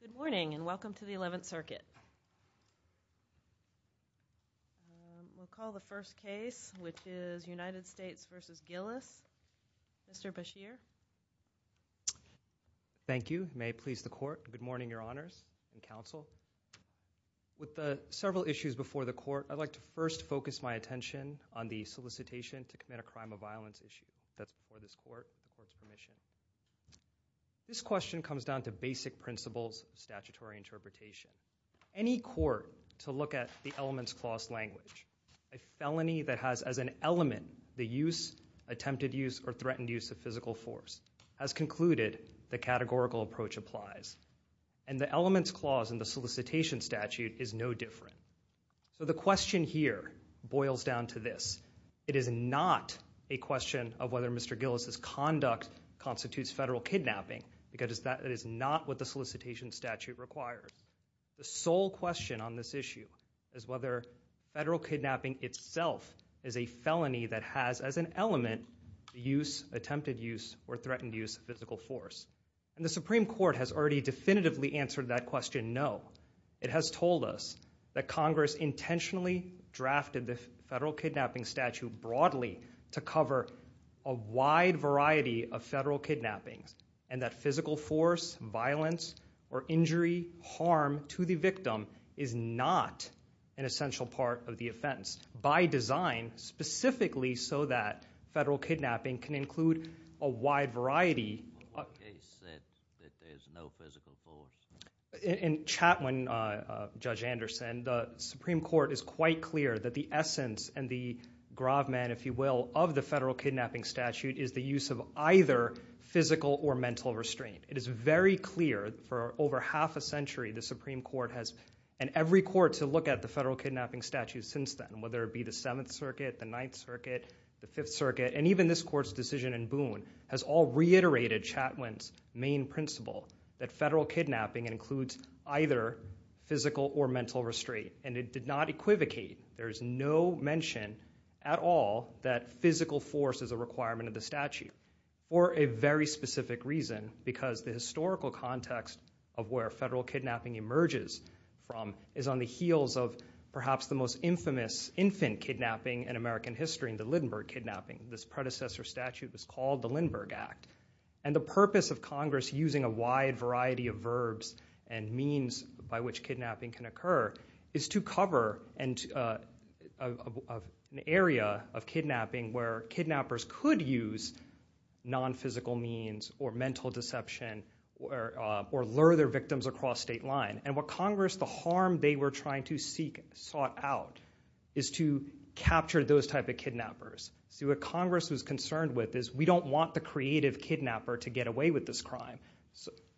Good morning, and welcome to the 11th Circuit. We'll call the first case, which is United States v. Gillis. Mr. Bashir. Thank you. May it please the Court. Good morning, Your Honors and Counsel. With the several issues before the Court, I'd like to first focus my attention on the solicitation to This question comes down to basic principles of statutory interpretation. Any court to look at the Elements Clause language, a felony that has as an element the use, attempted use, or threatened use of physical force, has concluded the categorical approach applies. And the Elements Clause in the solicitation statute is no different. So the question here constitutes federal kidnapping, because that is not what the solicitation statute requires. The sole question on this issue is whether federal kidnapping itself is a felony that has as an element the use, attempted use, or threatened use of physical force. And the Supreme Court has already definitively answered that question, no. It has told us that Congress intentionally drafted the federal kidnapping statute broadly to cover a wide variety of federal kidnappings, and that physical force, violence, or injury, harm to the victim is not an essential part of the offense. By design, specifically so that federal kidnapping can include a wide variety. In Chapman, Judge Anderson, the Supreme Court is quite clear that the essence and the gravamen, if you will, of the federal kidnapping statute is the use of either physical or mental restraint. It is very clear for over half a century the Supreme Court has, and every court to look at the federal kidnapping statute since then, whether it be the 7th Circuit, the 9th Circuit, the 5th Circuit, and even this Court's decision in Boone, has all reiterated Chapman's main principle that federal kidnapping includes either physical or mental restraint. And it did not equivocate. There is no mention at all that physical force is a requirement of the statute, for a very specific reason, because the historical context of where federal kidnapping emerges from is on the heels of perhaps the most infamous infant kidnapping in American history, the Lindbergh Kidnapping. This predecessor statute was called the Lindbergh Act. And the purpose of Congress using a wide variety of verbs and means by which kidnapping can occur is to cover an area of federal kidnapping of kidnapping where kidnappers could use non-physical means or mental deception or lure their victims across state line. And what Congress, the harm they were trying to seek, sought out, is to capture those type of kidnappers. See, what Congress was concerned with is we don't want the creative kidnapper to get away with this crime.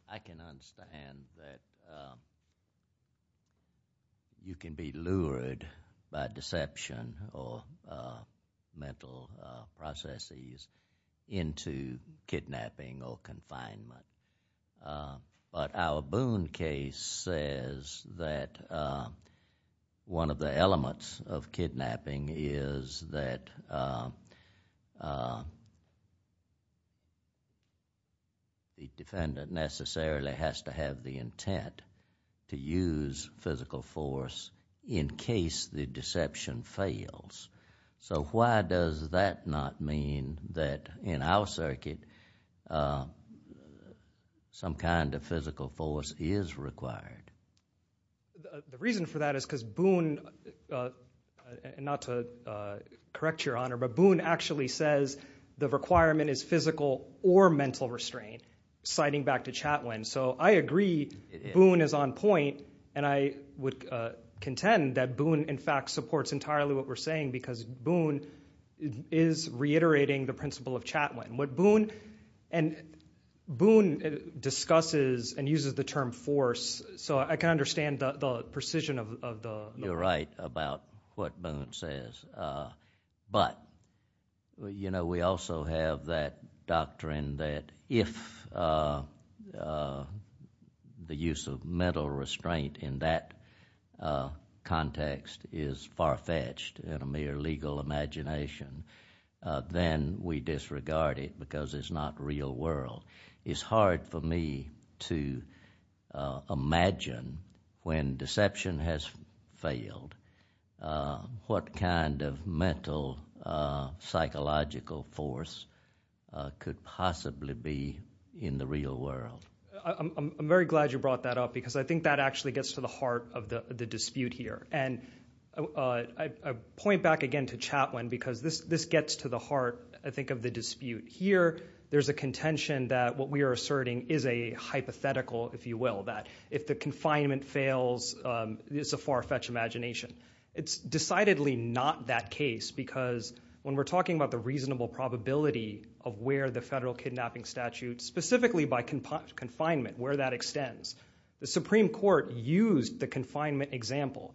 I can understand that you can be lured by deception or, you know, you can be lured by mental processes into kidnapping or confinement. But our Boone case says that one of the elements of kidnapping is that the defendant necessarily has to have the intent to use physical force in case the deception fails. So why does that not mean that in our circuit some kind of physical force is required? The reason for that is because Boone, not to correct Your Honor, but Boone actually says the requirement is physical or mental restraint, citing back to Chatwin. So I agree Boone is on point and I would contend that Boone in fact supports entirely what we're saying because Boone is reiterating the principle of Chatwin. What Boone, and Boone discusses and uses the term force, so I can understand the precision of the... You're right about what Boone says. But, you know, we also have that doctrine that if the use of mental restraint in that context is far-fetched in a mere legal imagination, then we disregard it because it's not real world. It's hard for me to imagine when deception has failed what kind of mental psychological force could possibly be in the real world. I'm very glad you brought that up because I think that actually gets to the heart of the dispute here. And I point back again to Chatwin because this gets to the heart, I think, of the dispute here. There's a contention that what we are asserting is a hypothetical, if you will, that if the confinement fails, it's a far-fetched imagination. It's decidedly not that case because when we're talking about the reasonable probability of where the federal confinement, where that extends, the Supreme Court used the confinement example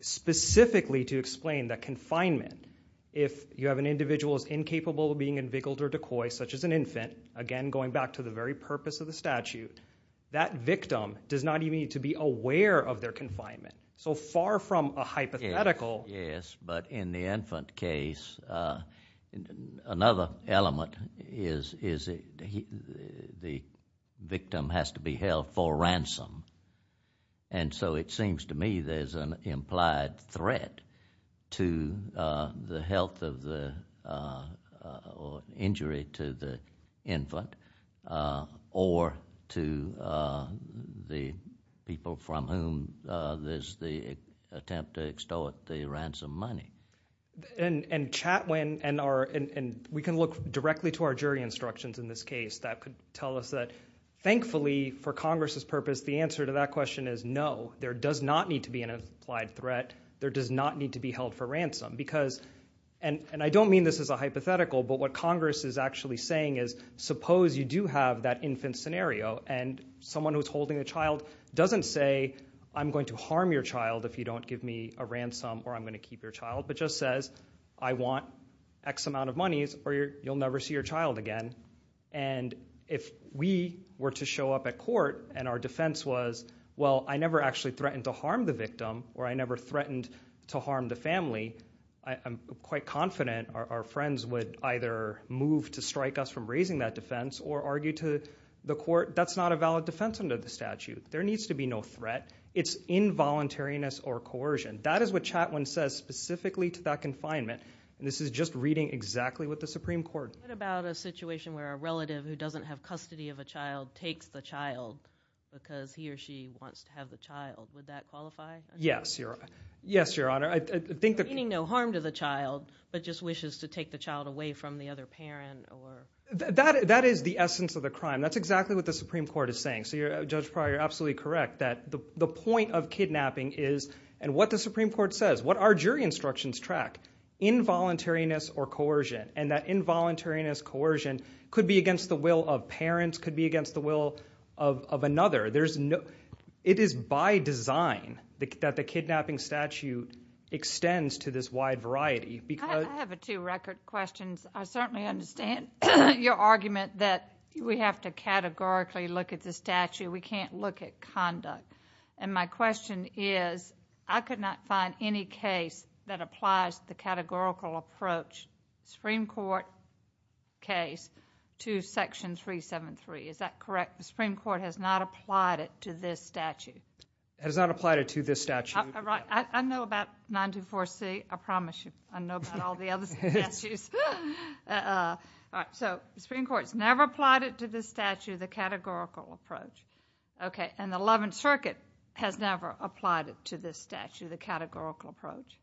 specifically to explain that confinement, if you have an individual who is incapable of being invigiled or decoyed, such as an infant, again going back to the very purpose of the statute, that victim does not even need to be aware of their confinement. So far from a hypothetical... Yes, but in the infant case, another element is the victim's inability to be aware of their confinement. The victim has to be held for ransom. And so it seems to me there's an implied threat to the health of the injury to the infant or to the people from whom there's the attempt to extort the ransom money. And Chatwin, and we can look directly to our jury instructions in this case, that could be the case. Thankfully, for Congress's purpose, the answer to that question is no. There does not need to be an implied threat. There does not need to be held for ransom. And I don't mean this as a hypothetical, but what Congress is actually saying is, suppose you do have that infant scenario and someone who's holding a child doesn't say, I'm going to harm your child if you don't give me a ransom or I'm going to keep your child, but just says, I want X amount of monies or you'll never see your child again. And if we were to show up at court and our defense was, well, I never actually threatened to harm the victim or I never threatened to harm the family, I'm quite confident our friends would either move to strike us from raising that defense or argue to the court, that's not a valid defense under the statute. There needs to be no threat. It's involuntariness or coercion. That is what Chatwin says specifically to that confinement. And this is just reading exactly what the Supreme Court- What about a situation where a relative who doesn't have custody of a child takes the child because he or she wants to have the child? Would that qualify? Yes, Your Honor. Yes, Your Honor. Meaning no harm to the child, but just wishes to take the child away from the other parent or- That is the essence of the crime. That's exactly what the Supreme Court is saying. So Judge Pryor, you're absolutely correct that the point of what the Supreme Court says, what our jury instructions track, involuntariness or coercion. And that involuntariness, coercion could be against the will of parents, could be against the will of another. It is by design that the kidnapping statute extends to this wide variety because- I have two record questions. I certainly understand your argument that we have to categorically look at the statute. We can't look at conduct. And my question is, I could not find any case that applies the categorical approach, Supreme Court case, to Section 373. Is that correct? The Supreme Court has not applied it to this statute. It has not applied it to this statute. I know about 924C. I promise you. I know about all the other statutes. So the Supreme Court's never applied it to this statute, the categorical approach. Okay. And the 11th Circuit has never applied it to this statute, the categorical approach.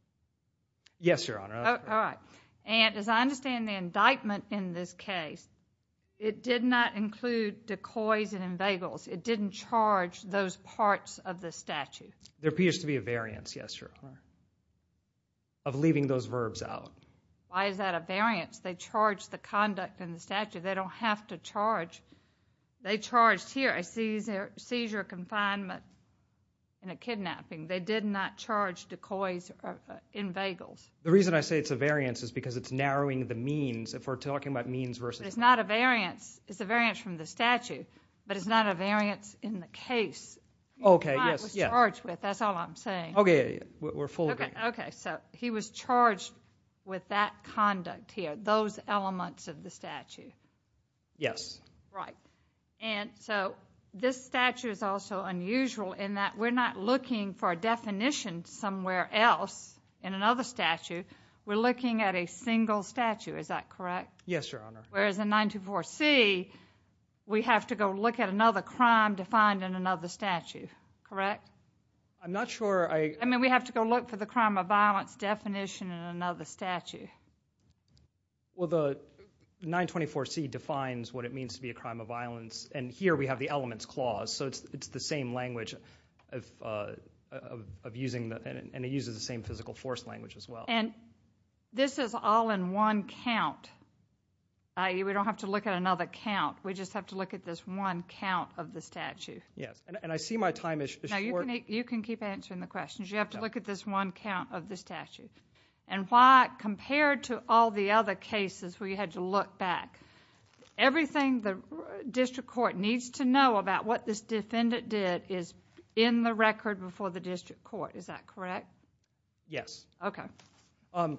Yes, Your Honor. All right. And as I understand the indictment in this case, it did not include decoys and inveigles. It didn't charge those parts of the statute. There appears to be a variance, yes, Your Honor, of leaving those verbs out. Why is that a variance? They charged the conduct in the statute. They don't have to charge. They charged here a seizure of confinement and a kidnapping. They did not charge decoys or inveigles. The reason I say it's a variance is because it's narrowing the means. If we're talking about means versus means. It's not a variance. It's a variance from the statute. But it's not a variance in the case. Okay. Yes. That's all I'm saying. Okay. We're full agreement. Okay. So he was charged with that conduct here, those elements of the statute. Yes. Right. And so this statute is also unusual in that we're not looking for a definition somewhere else in another statute. We're looking at a single statute. Is that correct? Yes, Your Honor. Whereas in 924C, we have to go look at another crime defined in another statute. Correct? I'm not sure I... I mean, we have to go look for the crime of violence definition in another statute. Well, the 924C defines what it means to be a crime of violence. And here we have the elements clause. So it's the same language of using the... And it uses the same physical force language as well. And this is all in one count. We don't have to look at another count. We just have to look at this one count of the statute. Yes. And I see my time is short. No, you can keep answering the questions. You have to look at this one count of the statute. And why, compared to all the other cases where you had to look back, everything the district court needs to know about what this defendant did is in the record before the district court. Is that correct? Yes. Okay. And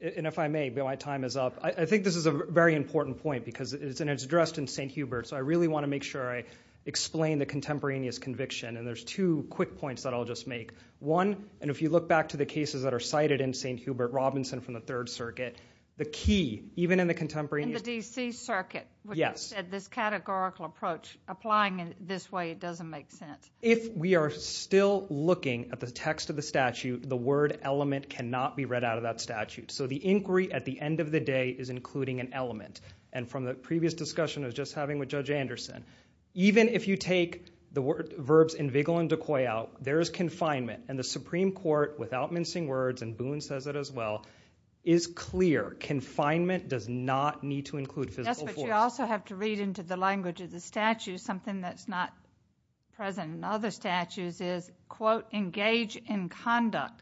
if I may, my time is up. I think this is a very important point because it's addressed in St. Hubert. So I really want to make sure I explain the contemporaneous conviction. And there's two quick points that I'll just make. One, and if you look back to the cases that are cited in St. Hubert Robinson from the Third Circuit, the key, even in the contemporaneous... In the D.C. Circuit. Yes. Which said this categorical approach, applying it this way, it doesn't make sense. If we are still looking at the text of the statute, the word element cannot be read out of that statute. So the inquiry at the end of the day is including an element. And from the previous discussion I was just having with Judge Anderson, even if you take the verbs invigil and decoy out, there is confinement. And the Supreme Court, without mincing words, and Boone says it as well, is clear. Confinement does not need to include physical force. Yes, but you also have to read into the language of the statute something that's not present in other statutes is, quote, engage in conduct.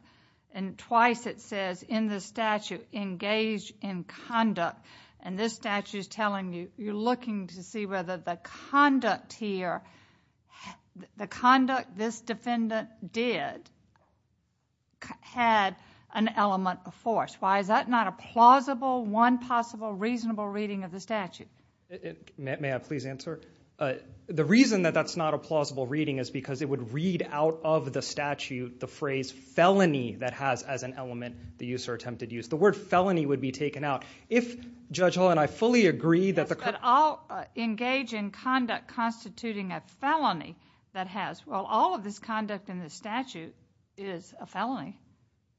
And twice it says in the statute, engage in conduct. And this statute is telling you, you're looking to see whether the conduct here, the conduct this defendant did, had an element of force. Why is that not a plausible, one possible, reasonable reading of the statute? May I please answer? The reason that that's not a plausible reading is because it would read out of the statute the phrase felony that has as an element the use or attempted use. The word felony would be taken out. If Judge Hall and I fully agree that the... Yes, but I'll engage in conduct constituting a felony that has. Well, all of this conduct in the statute is a felony.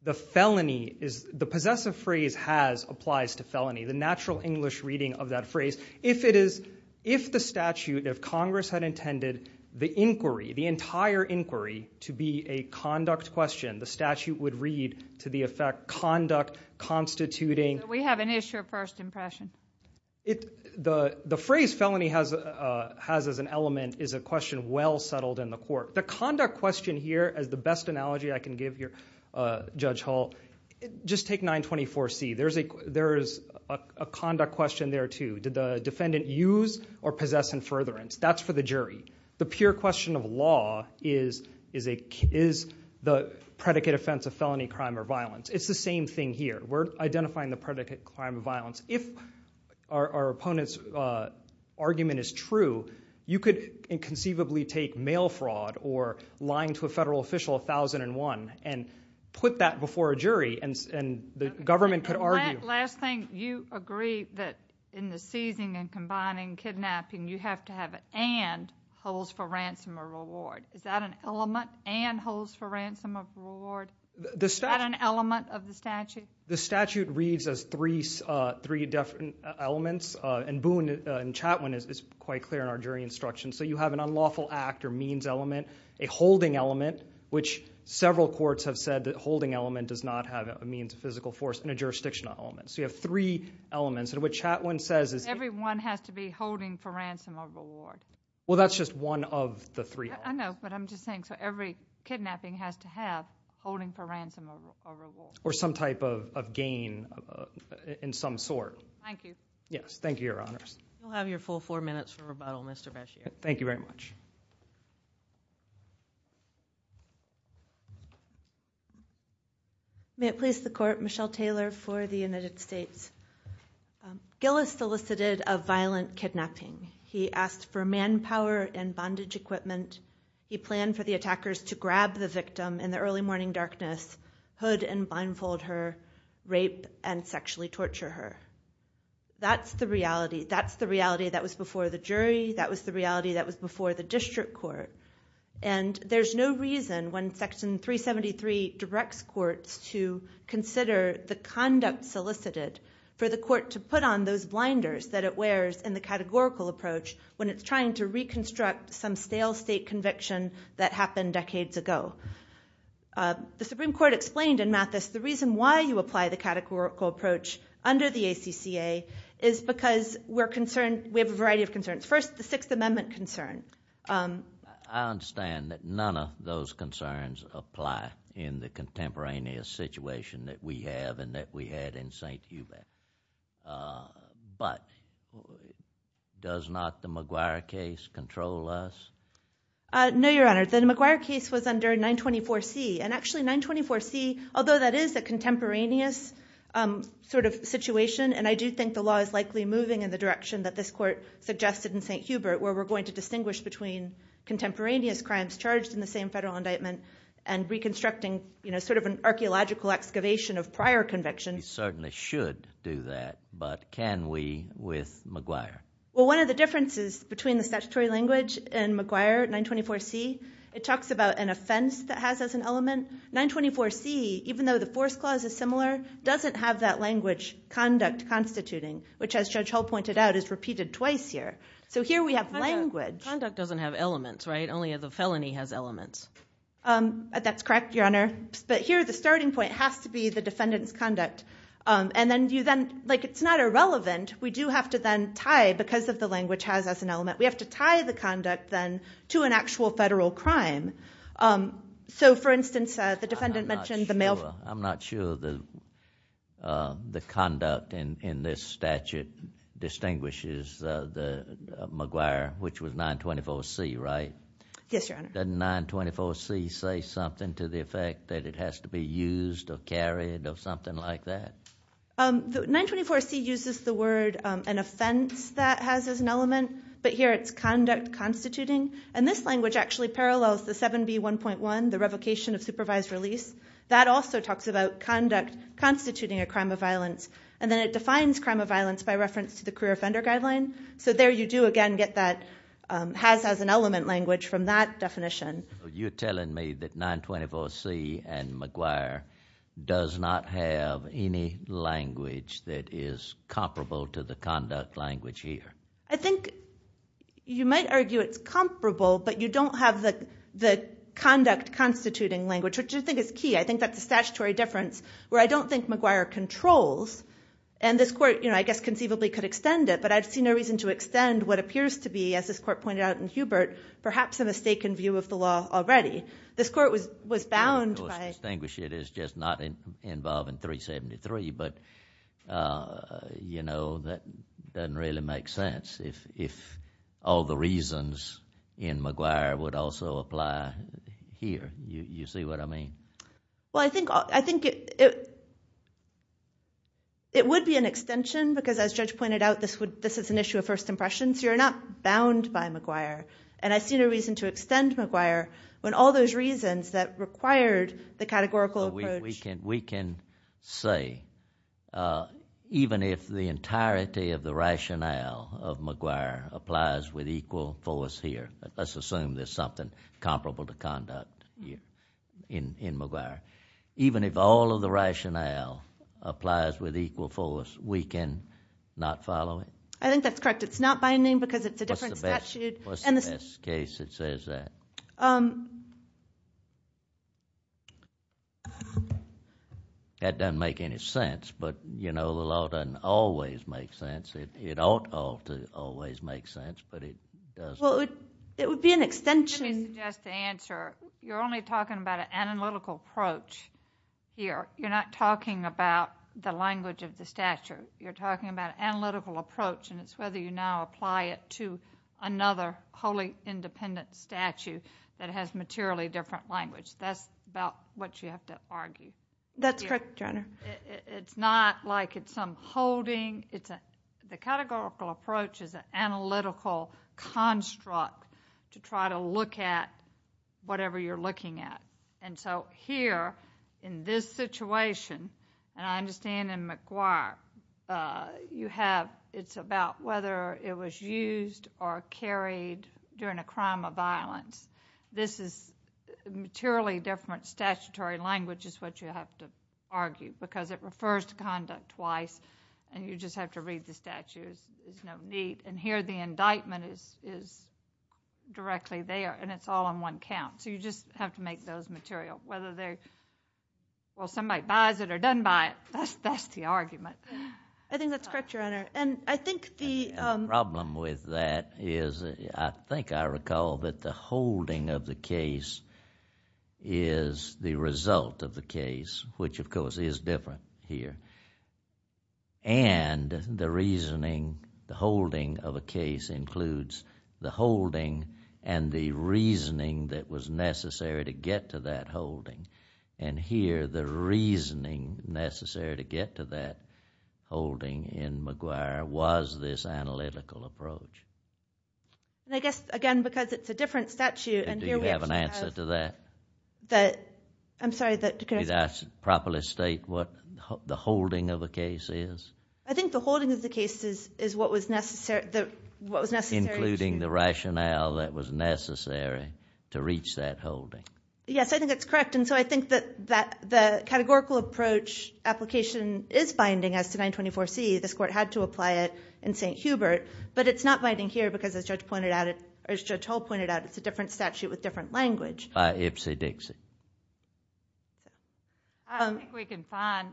The felony is, the possessive phrase has applies to felony, the natural English reading of that phrase. If it is, if the statute, if Congress had intended the inquiry, the entire inquiry to be a conduct question, the statute would read to the effect conduct constituting So we have an issue of first impression. The phrase felony has as an element is a question well settled in the court. The conduct question here is the best analogy I can give you, Judge Hall. Just take 924C. There is a conduct question there too. Did the defendant use or possess in furtherance? That's for the jury. The pure question of law is, is the predicate offense a felony crime or violence? It's the same thing here. We're identifying the predicate crime of violence. If our opponent's argument is true, you could inconceivably take mail fraud or lying to a federal official, 1001, and put that before a jury and the government could argue. Last thing, you agree that in the seizing and combining, kidnapping, you have to have an and holds for ransom or reward. Is that an element and holds for ransom or reward? Is that an element of the statute? The statute reads as three different elements. And Boone and Chatwin is quite clear in our jury instruction. So you have an unlawful act or means element, a holding element, which several courts have said that holding element does not have a means of physical force, and a jurisdictional element. So you have three elements. And what Chatwin says is Everyone has to be holding for ransom or reward. Well, that's just one of the three. I know, but I'm just saying, so every kidnapping has to have holding for ransom or reward. Or some type of gain in some sort. Thank you. Yes, thank you, Your Honors. You'll have your full four minutes for rebuttal, Mr. Bashir. Thank you very much. May it please the Court, Michelle Taylor for the United States. Gillis solicited a violent He planned for the attackers to grab the victim in the early morning darkness, hood and blindfold her, rape and sexually torture her. That's the reality. That's the reality that was before the jury. That was the reality that was before the district court. And there's no reason when Section 373 directs courts to consider the conduct solicited for the court to put on those blinders that it wears in the categorical approach when it's trying to reconstruct some stale state conviction that happened decades ago. The Supreme Court explained in Mathis the reason why you apply the categorical approach under the ACCA is because we're concerned we have a variety of concerns. First, the Sixth Amendment concern. I understand that none of those concerns apply in the contemporaneous situation that we have and that we had in St. Hubert. But does not the McGuire case control us? No, Your Honor. The McGuire case was under 924C. And actually, 924C, although that is a contemporaneous sort of situation, and I do think the law is likely moving in the direction that this court suggested in St. Hubert, where we're going to distinguish between contemporaneous crimes charged in the same federal indictment and reconstructing sort of an archaeological excavation of prior convictions. You certainly should do that. But can we with McGuire? Well, one of the differences between the statutory language and McGuire, 924C, it talks about an offense that has as an element. 924C, even though the force clause is similar, doesn't have that language conduct constituting, which as Judge Hull pointed out is repeated twice here. So here we have language. Conduct doesn't have elements, right? Only the felony has elements. That's correct, Your Honor. But here, the starting point has to be the defendant's conduct. And then you then, like it's not irrelevant. We do have to then tie, because of the language has as an element, we have to tie the conduct then to an actual federal crime. So for instance, the defendant mentioned the mail. I'm not sure the conduct in this statute distinguishes McGuire, which was 924C, right? Yes, Your Honor. Doesn't 924C say something to the effect that it has to be used or carried or something like that? 924C uses the word an offense that has as an element, but here it's conduct constituting. And this language actually parallels the 7B1.1, the revocation of supervised release. That also talks about conduct constituting a crime of violence. And then it defines crime of violence by reference to the career offender guideline. So there you do again get that has as an element language from that definition. You're telling me that 924C and McGuire does not have any language that is comparable to the conduct language here? I think you might argue it's comparable, but you don't have the conduct constituting language, which I think is key. I think that's a statutory difference where I don't think McGuire controls. And this court, I guess conceivably could extend it, but I'd see no reason to extend what appears to be, as this court pointed out in Hubert, perhaps a mistaken view of the law already. This court was bound by... It was distinguished. It is just not involved in 373, but that doesn't really make sense if all the reasons in McGuire would also apply here. You see what I mean? Well, I think it would be an extension, because as Judge pointed out, this is an issue of first impression, so you're not bound by McGuire. And I see no reason to extend McGuire when all those reasons that required the categorical approach... We can say, even if the entirety of the rationale of McGuire applies with equal force here, let's assume there's something comparable to conduct in McGuire, even if all of the rationale applies with equal force, we can not follow it? I think that's correct. It's not binding because it's a different statute. What's the best case that says that? That doesn't make any sense, but the law doesn't always make sense. It ought to always make sense, but it doesn't. It would be an extension... Let me suggest the answer. You're only talking about an analytical approach here. You're not talking about the language of the statute. You're talking about an analytical approach, and it's whether you now apply it to another wholly independent statute that has materially different language. That's about what you have to argue. That's correct, Your Honor. It's not like it's some holding. The categorical approach is an analytical construct to try to look at whatever you're looking at. Here, in this situation, and I understand in McGuire, it's about whether it was used or carried during a crime of violence. This is materially different statutory language is what you have to argue because it refers to conduct twice, and you just have to read the statute. There's no need. Here, the indictment is directly there, and it's all on one count, so you just have to make those material. Whether they're... well, somebody buys it or doesn't buy it, that's the argument. I think that's correct, Your Honor. I think the... The holding is the result of the case, which, of course, is different here. The reasoning, the holding of a case includes the holding and the reasoning that was necessary to get to that holding. Here, the reasoning necessary to get to that holding in McGuire was this analytical approach. I guess, again, because it's a different statute... Do you have an answer to that? I'm sorry, that... Did I properly state what the holding of a case is? I think the holding of the case is what was necessary... Including the rationale that was necessary to reach that holding. Yes, I think that's correct, and so I think that the categorical approach application is binding as to 924C. This court had to apply it in St. Hubert, but it's not binding here because as Judge Hull pointed out, it's a different statute with different language. Ipsy-Dixy. I don't think we can find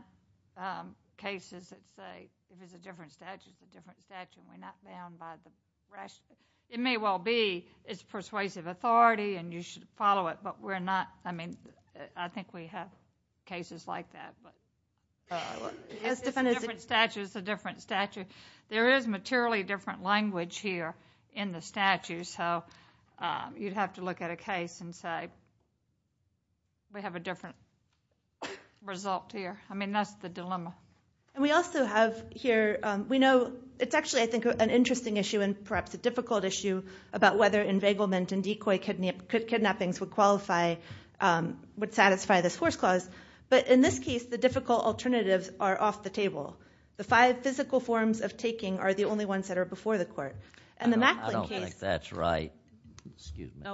cases that say if it's a different statute, it's a different statute and we're not bound by the rationale. It may well be it's persuasive authority and you should follow it, but we're not... I mean, I think we have cases like that. It's a different statute, it's a different statute. There is materially different language here in the statute, so you'd have to look at a case and say, we have a different result here. I mean, that's the dilemma. We also have here... We know... It's actually, I think, an interesting issue and perhaps a difficult issue about whether enveiglement and decoy kidnappings would qualify... The difficult alternatives are off the table. The five physical forms of taking are the only ones that are before the court. I don't think that's right. And the Macklin case... Excuse me.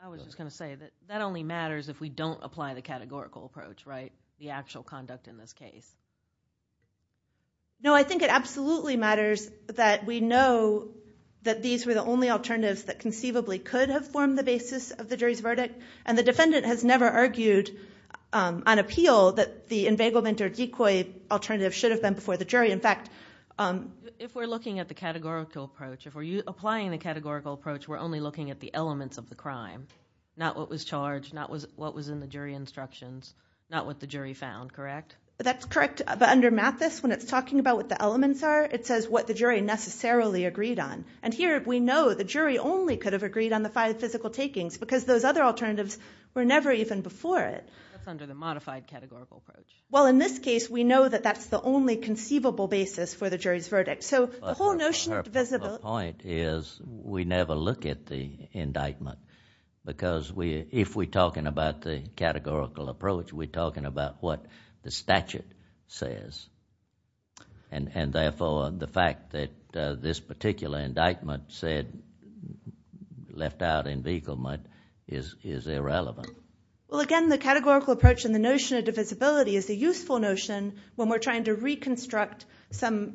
I was just going to say that that only matters if we don't apply the categorical approach, right, the actual conduct in this case. No, I think it absolutely matters that we know that these were the only alternatives that conceivably could have formed the basis of the jury's verdict and the defendant has never argued on appeal that the enveiglement or decoy alternative should have been before the jury. In fact... If we're looking at the categorical approach, if we're applying the categorical approach, we're only looking at the elements of the crime, not what was charged, not what was in the jury instructions, not what the jury found, correct? That's correct. But under Mathis, when it's talking about what the elements are, it says what the jury necessarily agreed on. And here, we know the jury only could have agreed on the five physical takings because those other alternatives were never even before it. That's under the modified categorical approach. Well, in this case, we know that that's the only conceivable basis for the jury's verdict. So the whole notion of divisibility... The point is we never look at the indictment because if we're talking about the categorical approach, we're talking about what the statute says. And therefore, the fact that this particular indictment said, left out in vigilment, is irrelevant. Well, again, the categorical approach and the notion of divisibility is a useful notion when we're trying to reconstruct some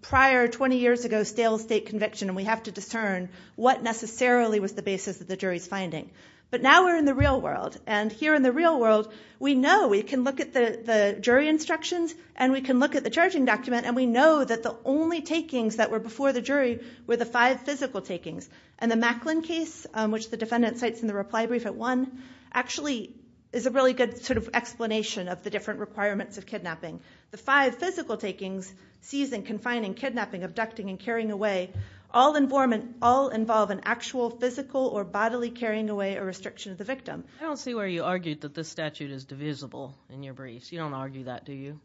prior 20 years ago stale state conviction and we have to discern what necessarily was the basis of the jury's finding. But now we're in the real world. And here in the real world, we know we can look at the jury instructions and we can look at the charging document and we know that the only takings that were before the jury were the five physical takings. And the Macklin case, which the defendant cites in the reply brief at one, actually is a really good sort of explanation of the different requirements of kidnapping. The five physical takings—seizing, confining, kidnapping, abducting, and carrying away—all I don't see where you argued that this statute is divisible in your briefs. You don't argue that, do you?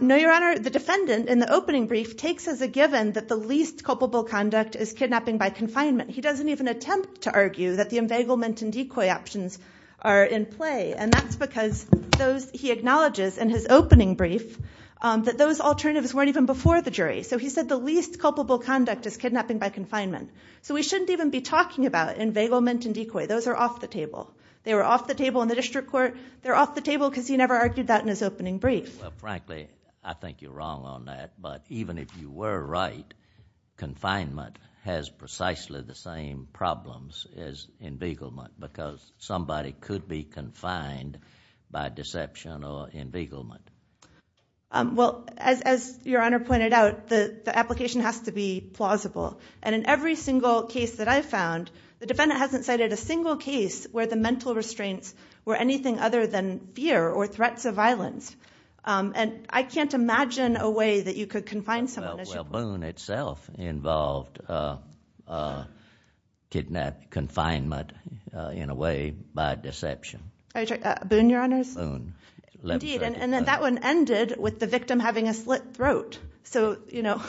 No, Your Honor. The defendant, in the opening brief, takes as a given that the least culpable conduct is kidnapping by confinement. He doesn't even attempt to argue that the inveiglement and decoy options are in play. And that's because he acknowledges in his opening brief that those alternatives weren't even before the jury. So he said the least culpable conduct is kidnapping by confinement. So we shouldn't even be talking about inveiglement and decoy. Those are off the table. They were off the table in the district court. They're off the table because he never argued that in his opening brief. Well, frankly, I think you're wrong on that. But even if you were right, confinement has precisely the same problems as inveiglement because somebody could be confined by deception or inveiglement. Well, as Your Honor pointed out, the application has to be plausible. And in every single case that I've found, the defendant hasn't cited a single case where the mental restraints were anything other than fear or threats of violence. And I can't imagine a way that you could confine someone. Well, Boone itself involved confinement in a way by deception. Boone, Your Honors? Boone. Indeed. And that one ended with the victim having a slit throat. So, you know,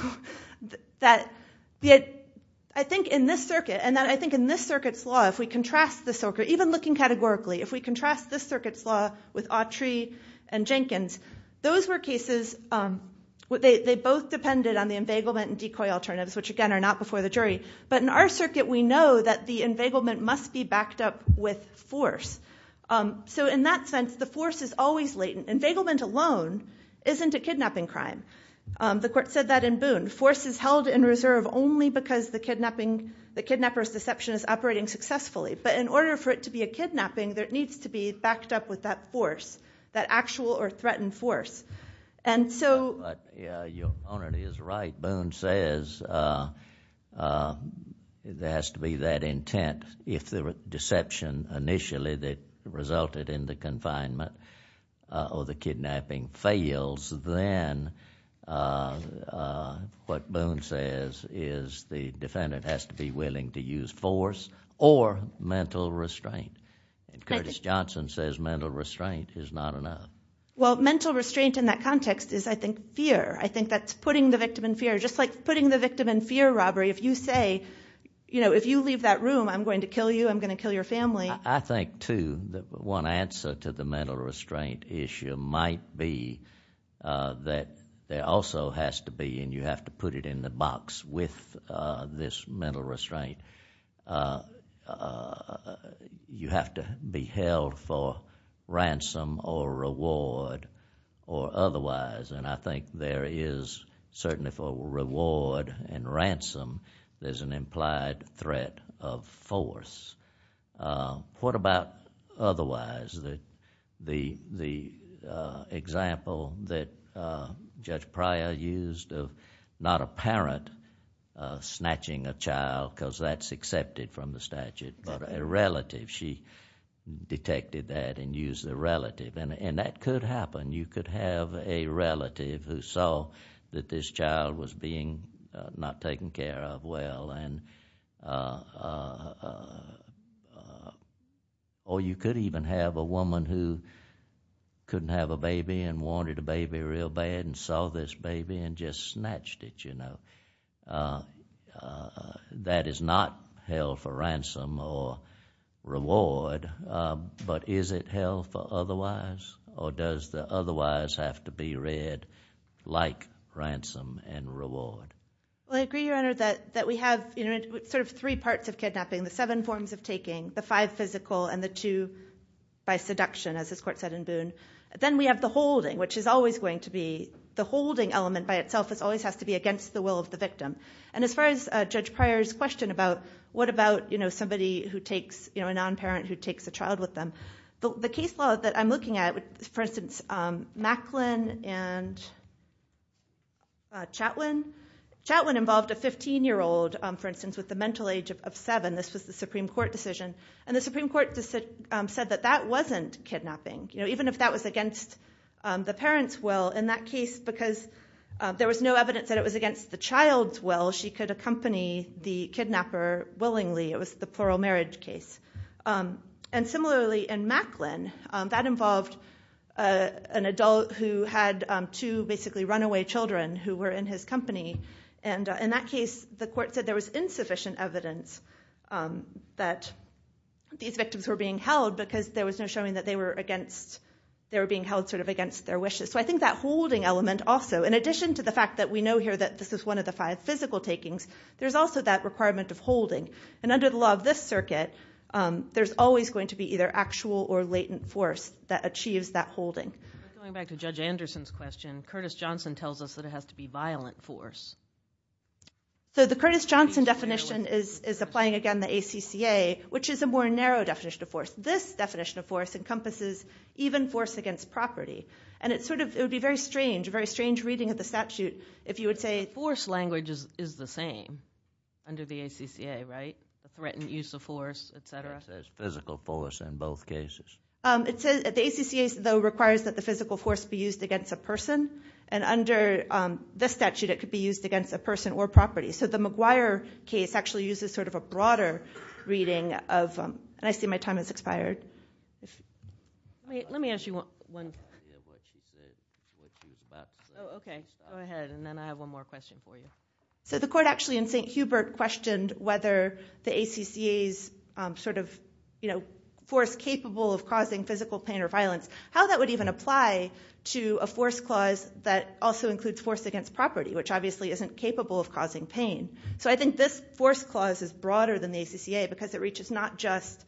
I think in this circuit and I think in this circuit's law, if we contrast this circuit, even looking categorically, if we contrast this circuit's law with Autry and Jenkins, those were cases where they both depended on the inveiglement and decoy alternatives, which again are not before the jury. But in our circuit, we know that the inveiglement must be backed up with force. So in that sense, the force is always latent. Inveiglement alone isn't a kidnapping crime. The court said that in Boone. Force is held in reserve only because the kidnapping, the kidnapper's deception is operating successfully. But in order for it to be a kidnapping, there needs to be backed up with that force, that actual or threatened force. And so. Your Honor is right. Boone says there has to be that intent. If the deception initially that resulted in the confinement or the kidnapping fails, then what Boone says is the defendant has to be willing to use force or mental restraint. And Curtis Johnson says mental restraint is not enough. Well, mental restraint in that context is, I think, fear. I think that's putting the victim in fear. Just like putting the victim in fear robbery. If you say, you know, if you leave that room, I'm going to kill you. I'm going to kill your family. I think, too, that one answer to the mental restraint issue might be that there also has to be, and you have to put it in the box with this mental restraint, you have to be held for ransom or reward or otherwise. And I think there is, certainly for reward and ransom, there's an implied threat of force. What about otherwise? The example that Judge Pryor used of not a parent snatching a child, because that's accepted from the statute, but a relative, she detected that and used the relative. And that could happen. You could have a relative who saw that this child was being not taken care of well, or you could even have a woman who couldn't have a baby and wanted a baby real bad and saw this baby and just snatched it, you know. That is not held for ransom or reward. But is it held for otherwise? Or does the otherwise have to be read like ransom and reward? Well, I agree, Your Honor, that we have sort of three parts of kidnapping, the seven forms of taking, the five physical, and the two by seduction, as this court said in Boone. Then we have the holding, which is always going to be the holding element by itself. And as far as Judge Pryor's question about what about, you know, somebody who takes, you know, a non-parent who takes a child with them, the case law that I'm looking at, for instance, Macklin and Chatwin, Chatwin involved a 15-year-old, for instance, with a mental age of seven. This was the Supreme Court decision. And the Supreme Court said that that wasn't kidnapping, you know, even if that was against the parent's will. In that case, because there was no evidence that it was against the child's will, she could accompany the kidnapper willingly. It was the plural marriage case. And similarly, in Macklin, that involved an adult who had two basically runaway children who were in his company. And in that case, the court said there was insufficient evidence that these victims were being held because there was no showing that they were being held sort of against their wishes. So I think that holding element also, in addition to the fact that we know here that this is one of the five physical takings, there's also that requirement of holding. And under the law of this circuit, there's always going to be either actual or latent force that achieves that holding. Going back to Judge Anderson's question, Curtis Johnson tells us that it has to be violent force. So the Curtis Johnson definition is applying, again, the ACCA, which is a more narrow definition of force. This definition of force encompasses even force against property. And it would be very strange, a very strange reading of the statute if you would say force language is the same under the ACCA, right? A threatened use of force, et cetera. It says physical force in both cases. The ACCA, though, requires that the physical force be used against a person, and under this statute it could be used against a person or property. So the McGuire case actually uses sort of a broader reading of them. And I see my time has expired. Let me ask you one question. Oh, okay. Go ahead, and then I have one more question for you. So the court actually in St. Hubert questioned whether the ACCA's sort of, you know, force capable of causing physical pain or violence, how that would even apply to a force clause that also includes force against property, which obviously isn't capable of causing pain. So I think this force clause is broader than the ACCA because it reaches not just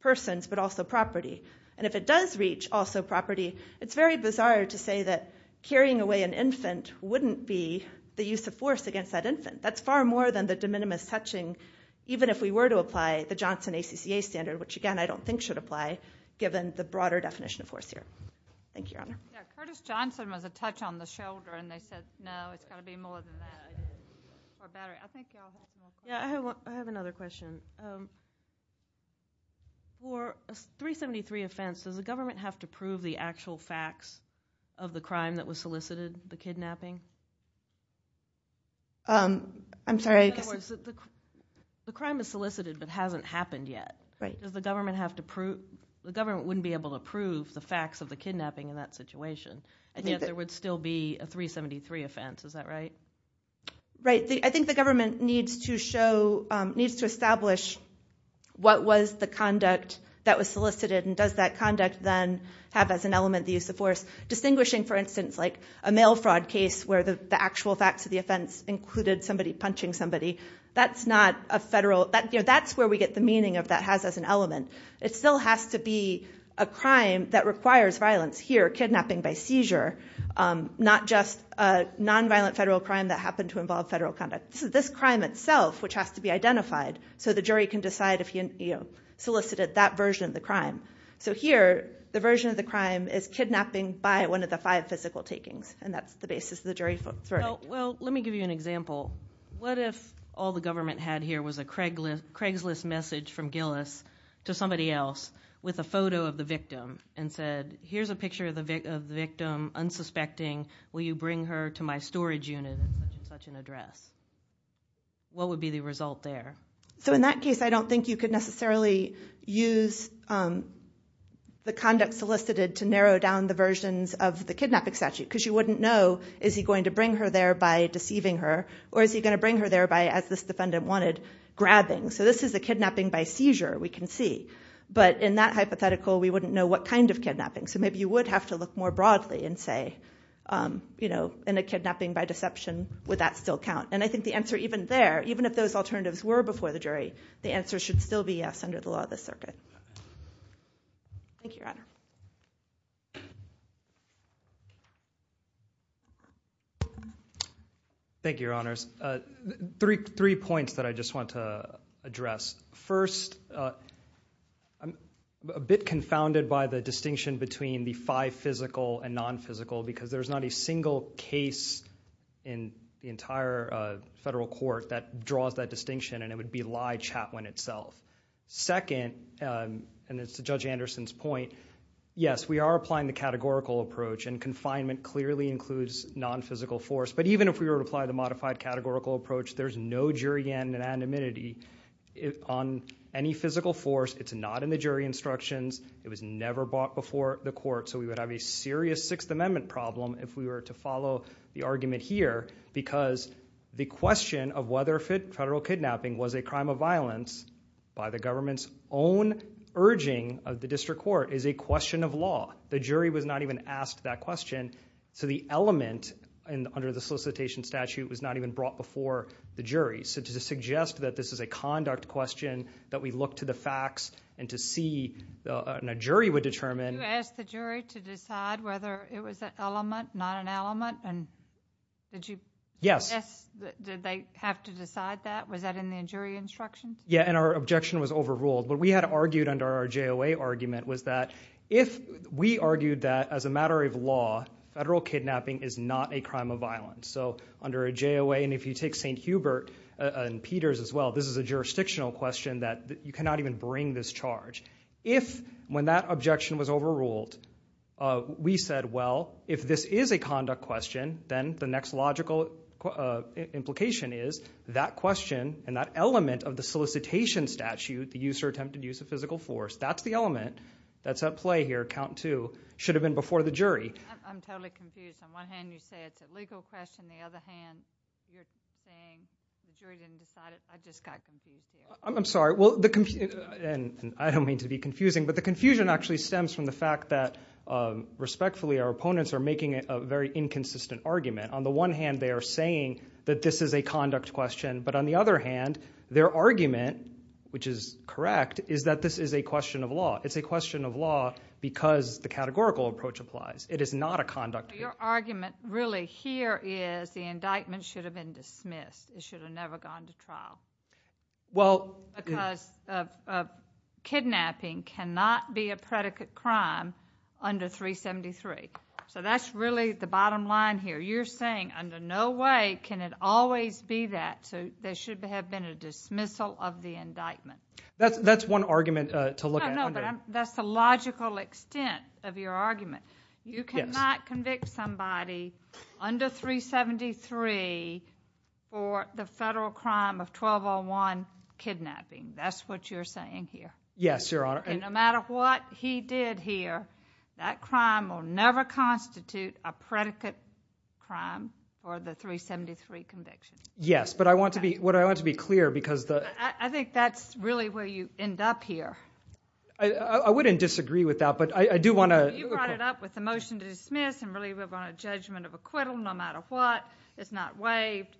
persons but also property. And if it does reach also property, it's very bizarre to say that carrying away an infant wouldn't be the use of force against that infant. That's far more than the de minimis touching, even if we were to apply the Johnson ACCA standard, which, again, I don't think should apply given the broader definition of force here. Thank you, Your Honor. Yeah, Curtis Johnson was a touch on the shoulder, and they said, no, it's got to be more than that. I think you all have more questions. Yeah, I have another question. For a 373 offense, does the government have to prove the actual facts of the crime that was solicited, the kidnapping? I'm sorry. In other words, the crime is solicited but hasn't happened yet. Right. The government wouldn't be able to prove the facts of the kidnapping in that situation, and yet there would still be a 373 offense. Is that right? Right. I think the government needs to establish what was the conduct that was solicited, and does that conduct then have as an element the use of force, distinguishing, for instance, like a mail fraud case where the actual facts of the offense included somebody punching somebody. That's where we get the meaning of that has as an element. It still has to be a crime that requires violence here, kidnapping by seizure, not just a nonviolent federal crime that happened to involve federal conduct. This crime itself, which has to be identified so the jury can decide if he solicited that version of the crime. So here, the version of the crime is kidnapping by one of the five physical takings, and that's the basis of the jury verdict. Well, let me give you an example. What if all the government had here was a Craigslist message from Gillis to somebody else with a photo of the victim and said, here's a picture of the victim, unsuspecting. Will you bring her to my storage unit at such and such an address? What would be the result there? So in that case, I don't think you could necessarily use the conduct solicited to narrow down the versions of the kidnapping statute because you wouldn't know, is he going to bring her there by deceiving her, or is he going to bring her there by, as this defendant wanted, grabbing. So this is a kidnapping by seizure, we can see. But in that hypothetical, we wouldn't know what kind of kidnapping. So maybe you would have to look more broadly and say, in a kidnapping by deception, would that still count? And I think the answer even there, even if those alternatives were before the jury, the answer should still be yes under the law of the circuit. Thank you, Your Honor. Thank you, Your Honors. Three points that I just want to address. First, I'm a bit confounded by the distinction between the five physical and non-physical because there's not a single case in the entire federal court that draws that distinction, and it would be Lye-Chaplin itself. Second, and it's to Judge Anderson's point, yes, we are applying the categorical approach, and confinement clearly includes non-physical force. But even if we were to apply the modified categorical approach, there's no jury anonymity on any physical force. It's not in the jury instructions. It was never brought before the court. So we would have a serious Sixth Amendment problem if we were to follow the argument here because the question of whether federal kidnapping was a crime of violence by the government's own urging of the district court is a question of law. The jury was not even asked that question. So the element under the solicitation statute was not even brought before the jury. So to suggest that this is a conduct question, that we look to the facts and to see, and a jury would determine— Yes. Did they have to decide that? Was that in the jury instructions? Yeah, and our objection was overruled. What we had argued under our JOA argument was that if we argued that as a matter of law, federal kidnapping is not a crime of violence. So under a JOA, and if you take St. Hubert and Peters as well, this is a jurisdictional question that you cannot even bring this charge. If when that objection was overruled, we said, well, if this is a conduct question, then the next logical implication is that question and that element of the solicitation statute, the use or attempted use of physical force, that's the element that's at play here, count two, should have been before the jury. I'm totally confused. On one hand, you say it's a legal question. On the other hand, you're saying the jury didn't decide it. I just got confused here. I'm sorry. I don't mean to be confusing, but the confusion actually stems from the fact that, respectfully, our opponents are making a very inconsistent argument. On the one hand, they are saying that this is a conduct question, but on the other hand, their argument, which is correct, is that this is a question of law. It's a question of law because the categorical approach applies. It is not a conduct question. Your argument really here is the indictment should have been dismissed. It should have never gone to trial. Because kidnapping cannot be a predicate crime under 373. So that's really the bottom line here. You're saying under no way can it always be that, so there should have been a dismissal of the indictment. That's one argument to look at. No, but that's the logical extent of your argument. You cannot convict somebody under 373 for the federal crime of 1201 kidnapping. That's what you're saying here. Yes, Your Honor. And no matter what he did here, that crime will never constitute a predicate crime for the 373 conviction. Yes, but I want to be clear because the— I think that's really where you end up here. I wouldn't disagree with that, but I do want to— You brought it up with the motion to dismiss and really live on a judgment of acquittal no matter what. It's not waived.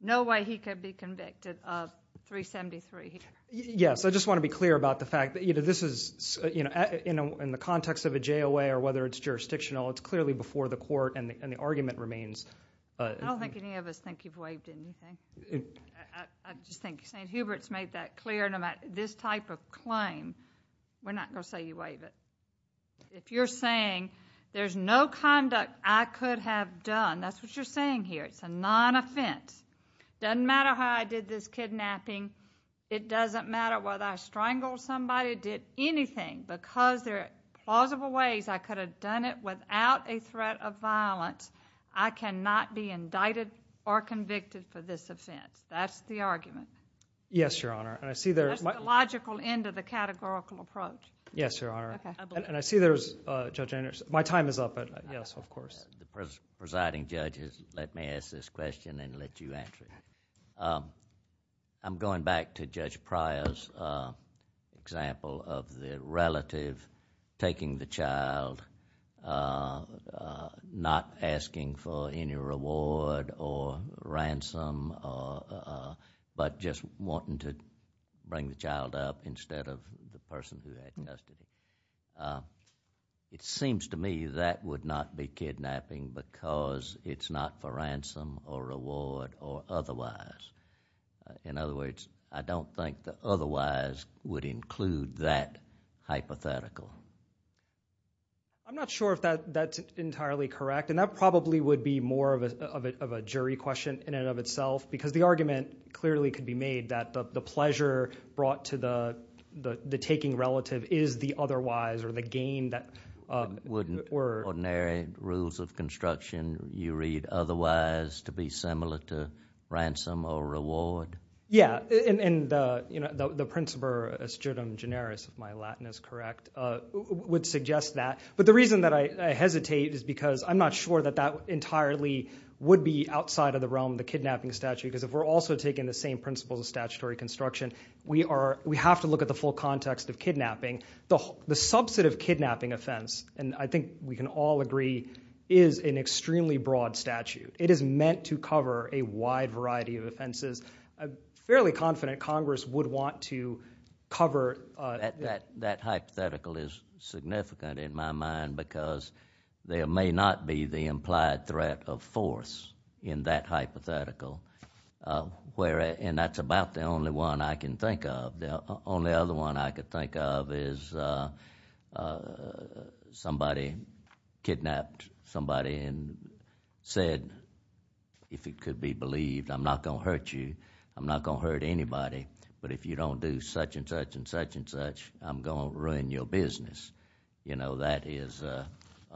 No way he could be convicted of 373 here. Yes, I just want to be clear about the fact that this is, in the context of a JOA or whether it's jurisdictional, it's clearly before the court and the argument remains— I don't think any of us think you've waived anything. I just think St. Hubert's made that clear. This type of claim, we're not going to say you waived it. If you're saying there's no conduct I could have done, that's what you're saying here. It's a non-offense. Doesn't matter how I did this kidnapping. It doesn't matter whether I strangled somebody, did anything. Because there are plausible ways I could have done it without a threat of violence, I cannot be indicted or convicted for this offense. That's the argument. Yes, Your Honor, and I see there's... That's the logical end of the categorical approach. Yes, Your Honor, and I see there's... My time is up. Yes, of course. The presiding judge has let me ask this question and let you answer it. I'm going back to Judge Pryor's example of the relative taking the child, not asking for any reward or ransom but just wanting to bring the child up instead of the person who diagnosed it. It seems to me that would not be kidnapping because it's not for ransom or reward or otherwise. In other words, I don't think otherwise would include that hypothetical. I'm not sure if that's entirely correct, and that probably would be more of a jury question in and of itself because the argument clearly could be made that the pleasure brought to the taking relative is the otherwise or the gain that... Wouldn't ordinary rules of construction, you read, otherwise to be similar to ransom or reward? Yes, and the principle astutum generis, if my Latin is correct, would suggest that. But the reason that I hesitate is because I'm not sure that that entirely would be outside of the realm of the kidnapping statute because if we're also taking the same principles of statutory construction, we have to look at the full context of kidnapping. The subset of kidnapping offense, and I think we can all agree, is an extremely broad statute. It is meant to cover a wide variety of offenses. I'm fairly confident Congress would want to cover... That hypothetical is significant in my mind because there may not be the implied threat of force in that hypothetical, and that's about the only one I can think of. The only other one I can think of is somebody kidnapped somebody and said, if it could be believed, I'm not going to hurt you, I'm not going to hurt anybody, but if you don't do such and such and such and such, I'm going to ruin your business. You know, that is a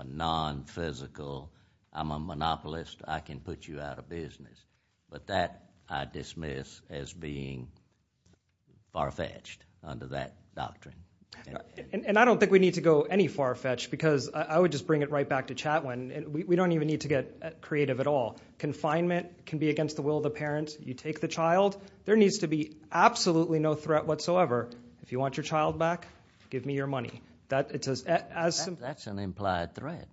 non-physical... I'm a monopolist. I can put you out of business. But that I dismiss as being far-fetched under that doctrine. And I don't think we need to go any far-fetched because I would just bring it right back to Chatwin. We don't even need to get creative at all. Confinement can be against the will of the parent. You take the child. There needs to be absolutely no threat whatsoever. If you want your child back, give me your money. That's an implied threat.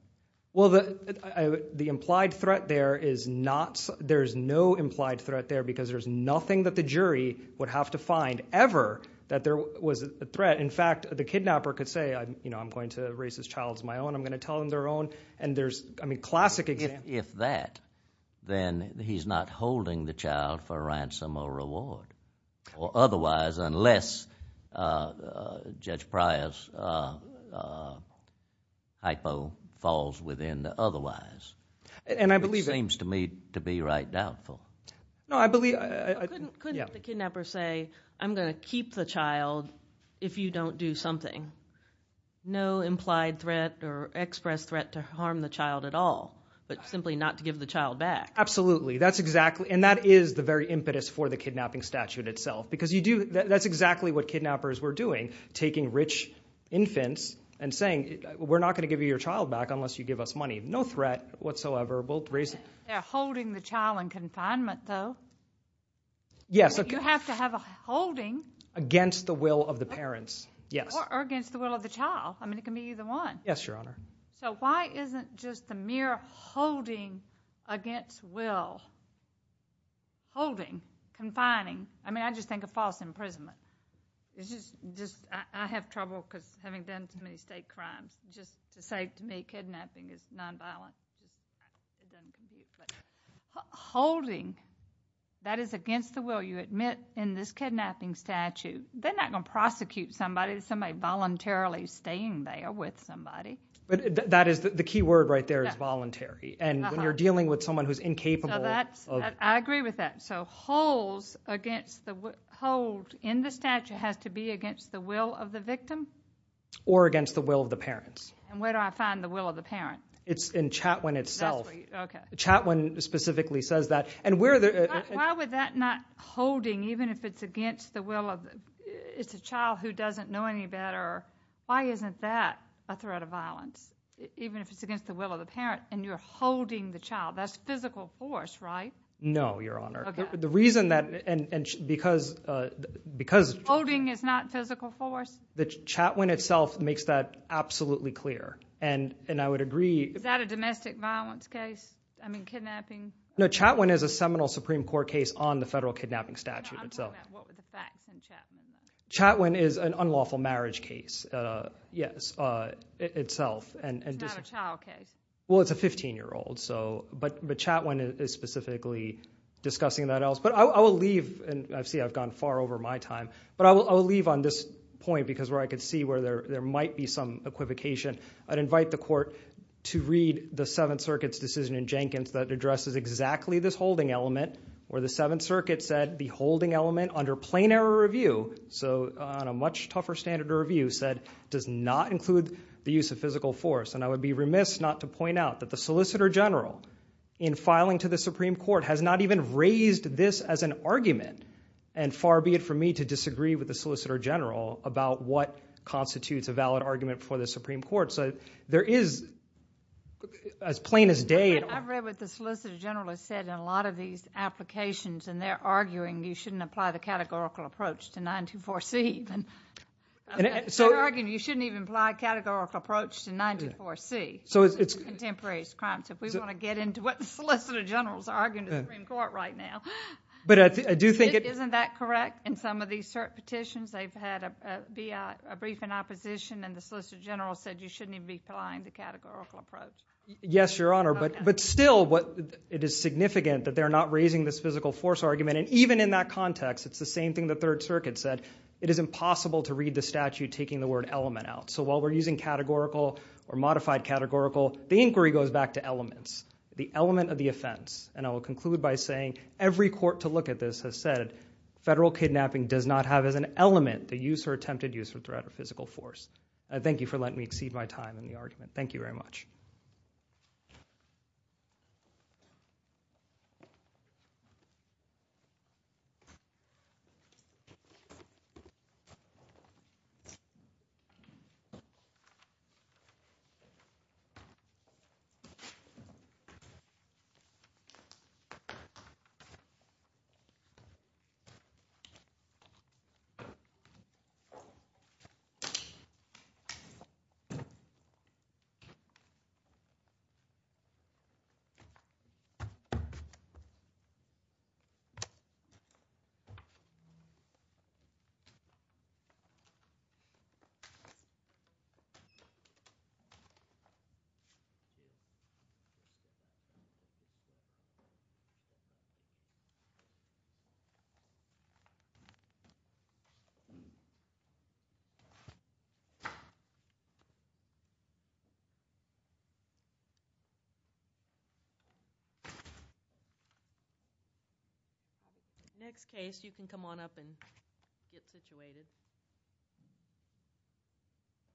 Well, the implied threat there is not... there's no implied threat there because there's nothing that the jury would have to find, ever, that there was a threat. In fact, the kidnapper could say, I'm going to raise this child as my own. I'm going to tell them they're own. I mean, classic example. If that, then he's not holding the child for ransom or reward. Or otherwise, unless Judge Pryor's hypo falls within the otherwise. And I believe... It seems to me to be right doubtful. No, I believe... Couldn't the kidnapper say, I'm going to keep the child if you don't do something? No implied threat or express threat to harm the child at all, but simply not to give the child back. Absolutely. That's exactly... And that is the very impetus for the kidnapping statute itself. Because you do... That's exactly what kidnappers were doing, taking rich infants and saying, we're not going to give you your child back unless you give us money. No threat whatsoever. We'll raise... They're holding the child in confinement, though. Yes. You have to have a holding... Against the will of the parents, yes. Or against the will of the child. I mean, it can be either one. Yes, Your Honor. So why isn't just the mere holding against will? Holding, confining. I mean, I just think of false imprisonment. It's just... I have trouble because having done too many state crimes. Just to say to me, kidnapping is nonviolent. Holding, that is against the will. You admit in this kidnapping statute, they're not going to prosecute somebody. Somebody voluntarily staying there with somebody. The key word right there is voluntary. And when you're dealing with someone who's incapable... I agree with that. So hold in the statute has to be against the will of the victim? Or against the will of the parents. And where do I find the will of the parent? It's in Chatwin itself. Chatwin specifically says that. Why would that not holding, even if it's against the will of... It's a child who doesn't know any better. Why isn't that a threat of violence? Even if it's against the will of the parent. And you're holding the child. That's physical force, right? No, Your Honor. Okay. The reason that... Because... Holding is not physical force? Chatwin itself makes that absolutely clear. And I would agree... Is that a domestic violence case? I mean, kidnapping? No, Chatwin is a seminal Supreme Court case on the federal kidnapping statute itself. I'm talking about what were the facts in Chatwin. Chatwin is an unlawful marriage case. Yes. Itself. It's not a child case. Well, it's a 15-year-old. But Chatwin is specifically discussing that else. But I will leave... And I see I've gone far over my time. But I will leave on this point because where I could see where there might be some equivocation. I'd invite the court to read the Seventh Circuit's decision in Jenkins that addresses exactly this holding element. Where the Seventh Circuit said the holding element under plain error review, so on a much tougher standard of review, said it does not include the use of physical force. And I would be remiss not to point out that the Solicitor General, in filing to the Supreme Court, has not even raised this as an argument. And far be it from me to disagree with the Solicitor General about what constitutes a valid argument for the Supreme Court. And they're arguing you shouldn't apply the categorical approach to 924C. They're arguing you shouldn't even apply a categorical approach to 924C. So it's... Contemporary crimes. If we want to get into what the Solicitor General is arguing in the Supreme Court right now. But I do think... Isn't that correct? In some of these cert petitions, they've had a brief in opposition, and the Solicitor General said you shouldn't even be applying the categorical approach. Yes, Your Honor. But still, it is significant that they're not raising this physical force argument. And even in that context, it's the same thing the Third Circuit said. It is impossible to read the statute taking the word element out. So while we're using categorical or modified categorical, the inquiry goes back to elements. The element of the offense. And I will conclude by saying every court to look at this has said, federal kidnapping does not have as an element the use or attempted use or threat of physical force. Thank you for letting me exceed my time in the argument. Thank you very much. Thank you. Thank you. Next case, you can come on up and get situated.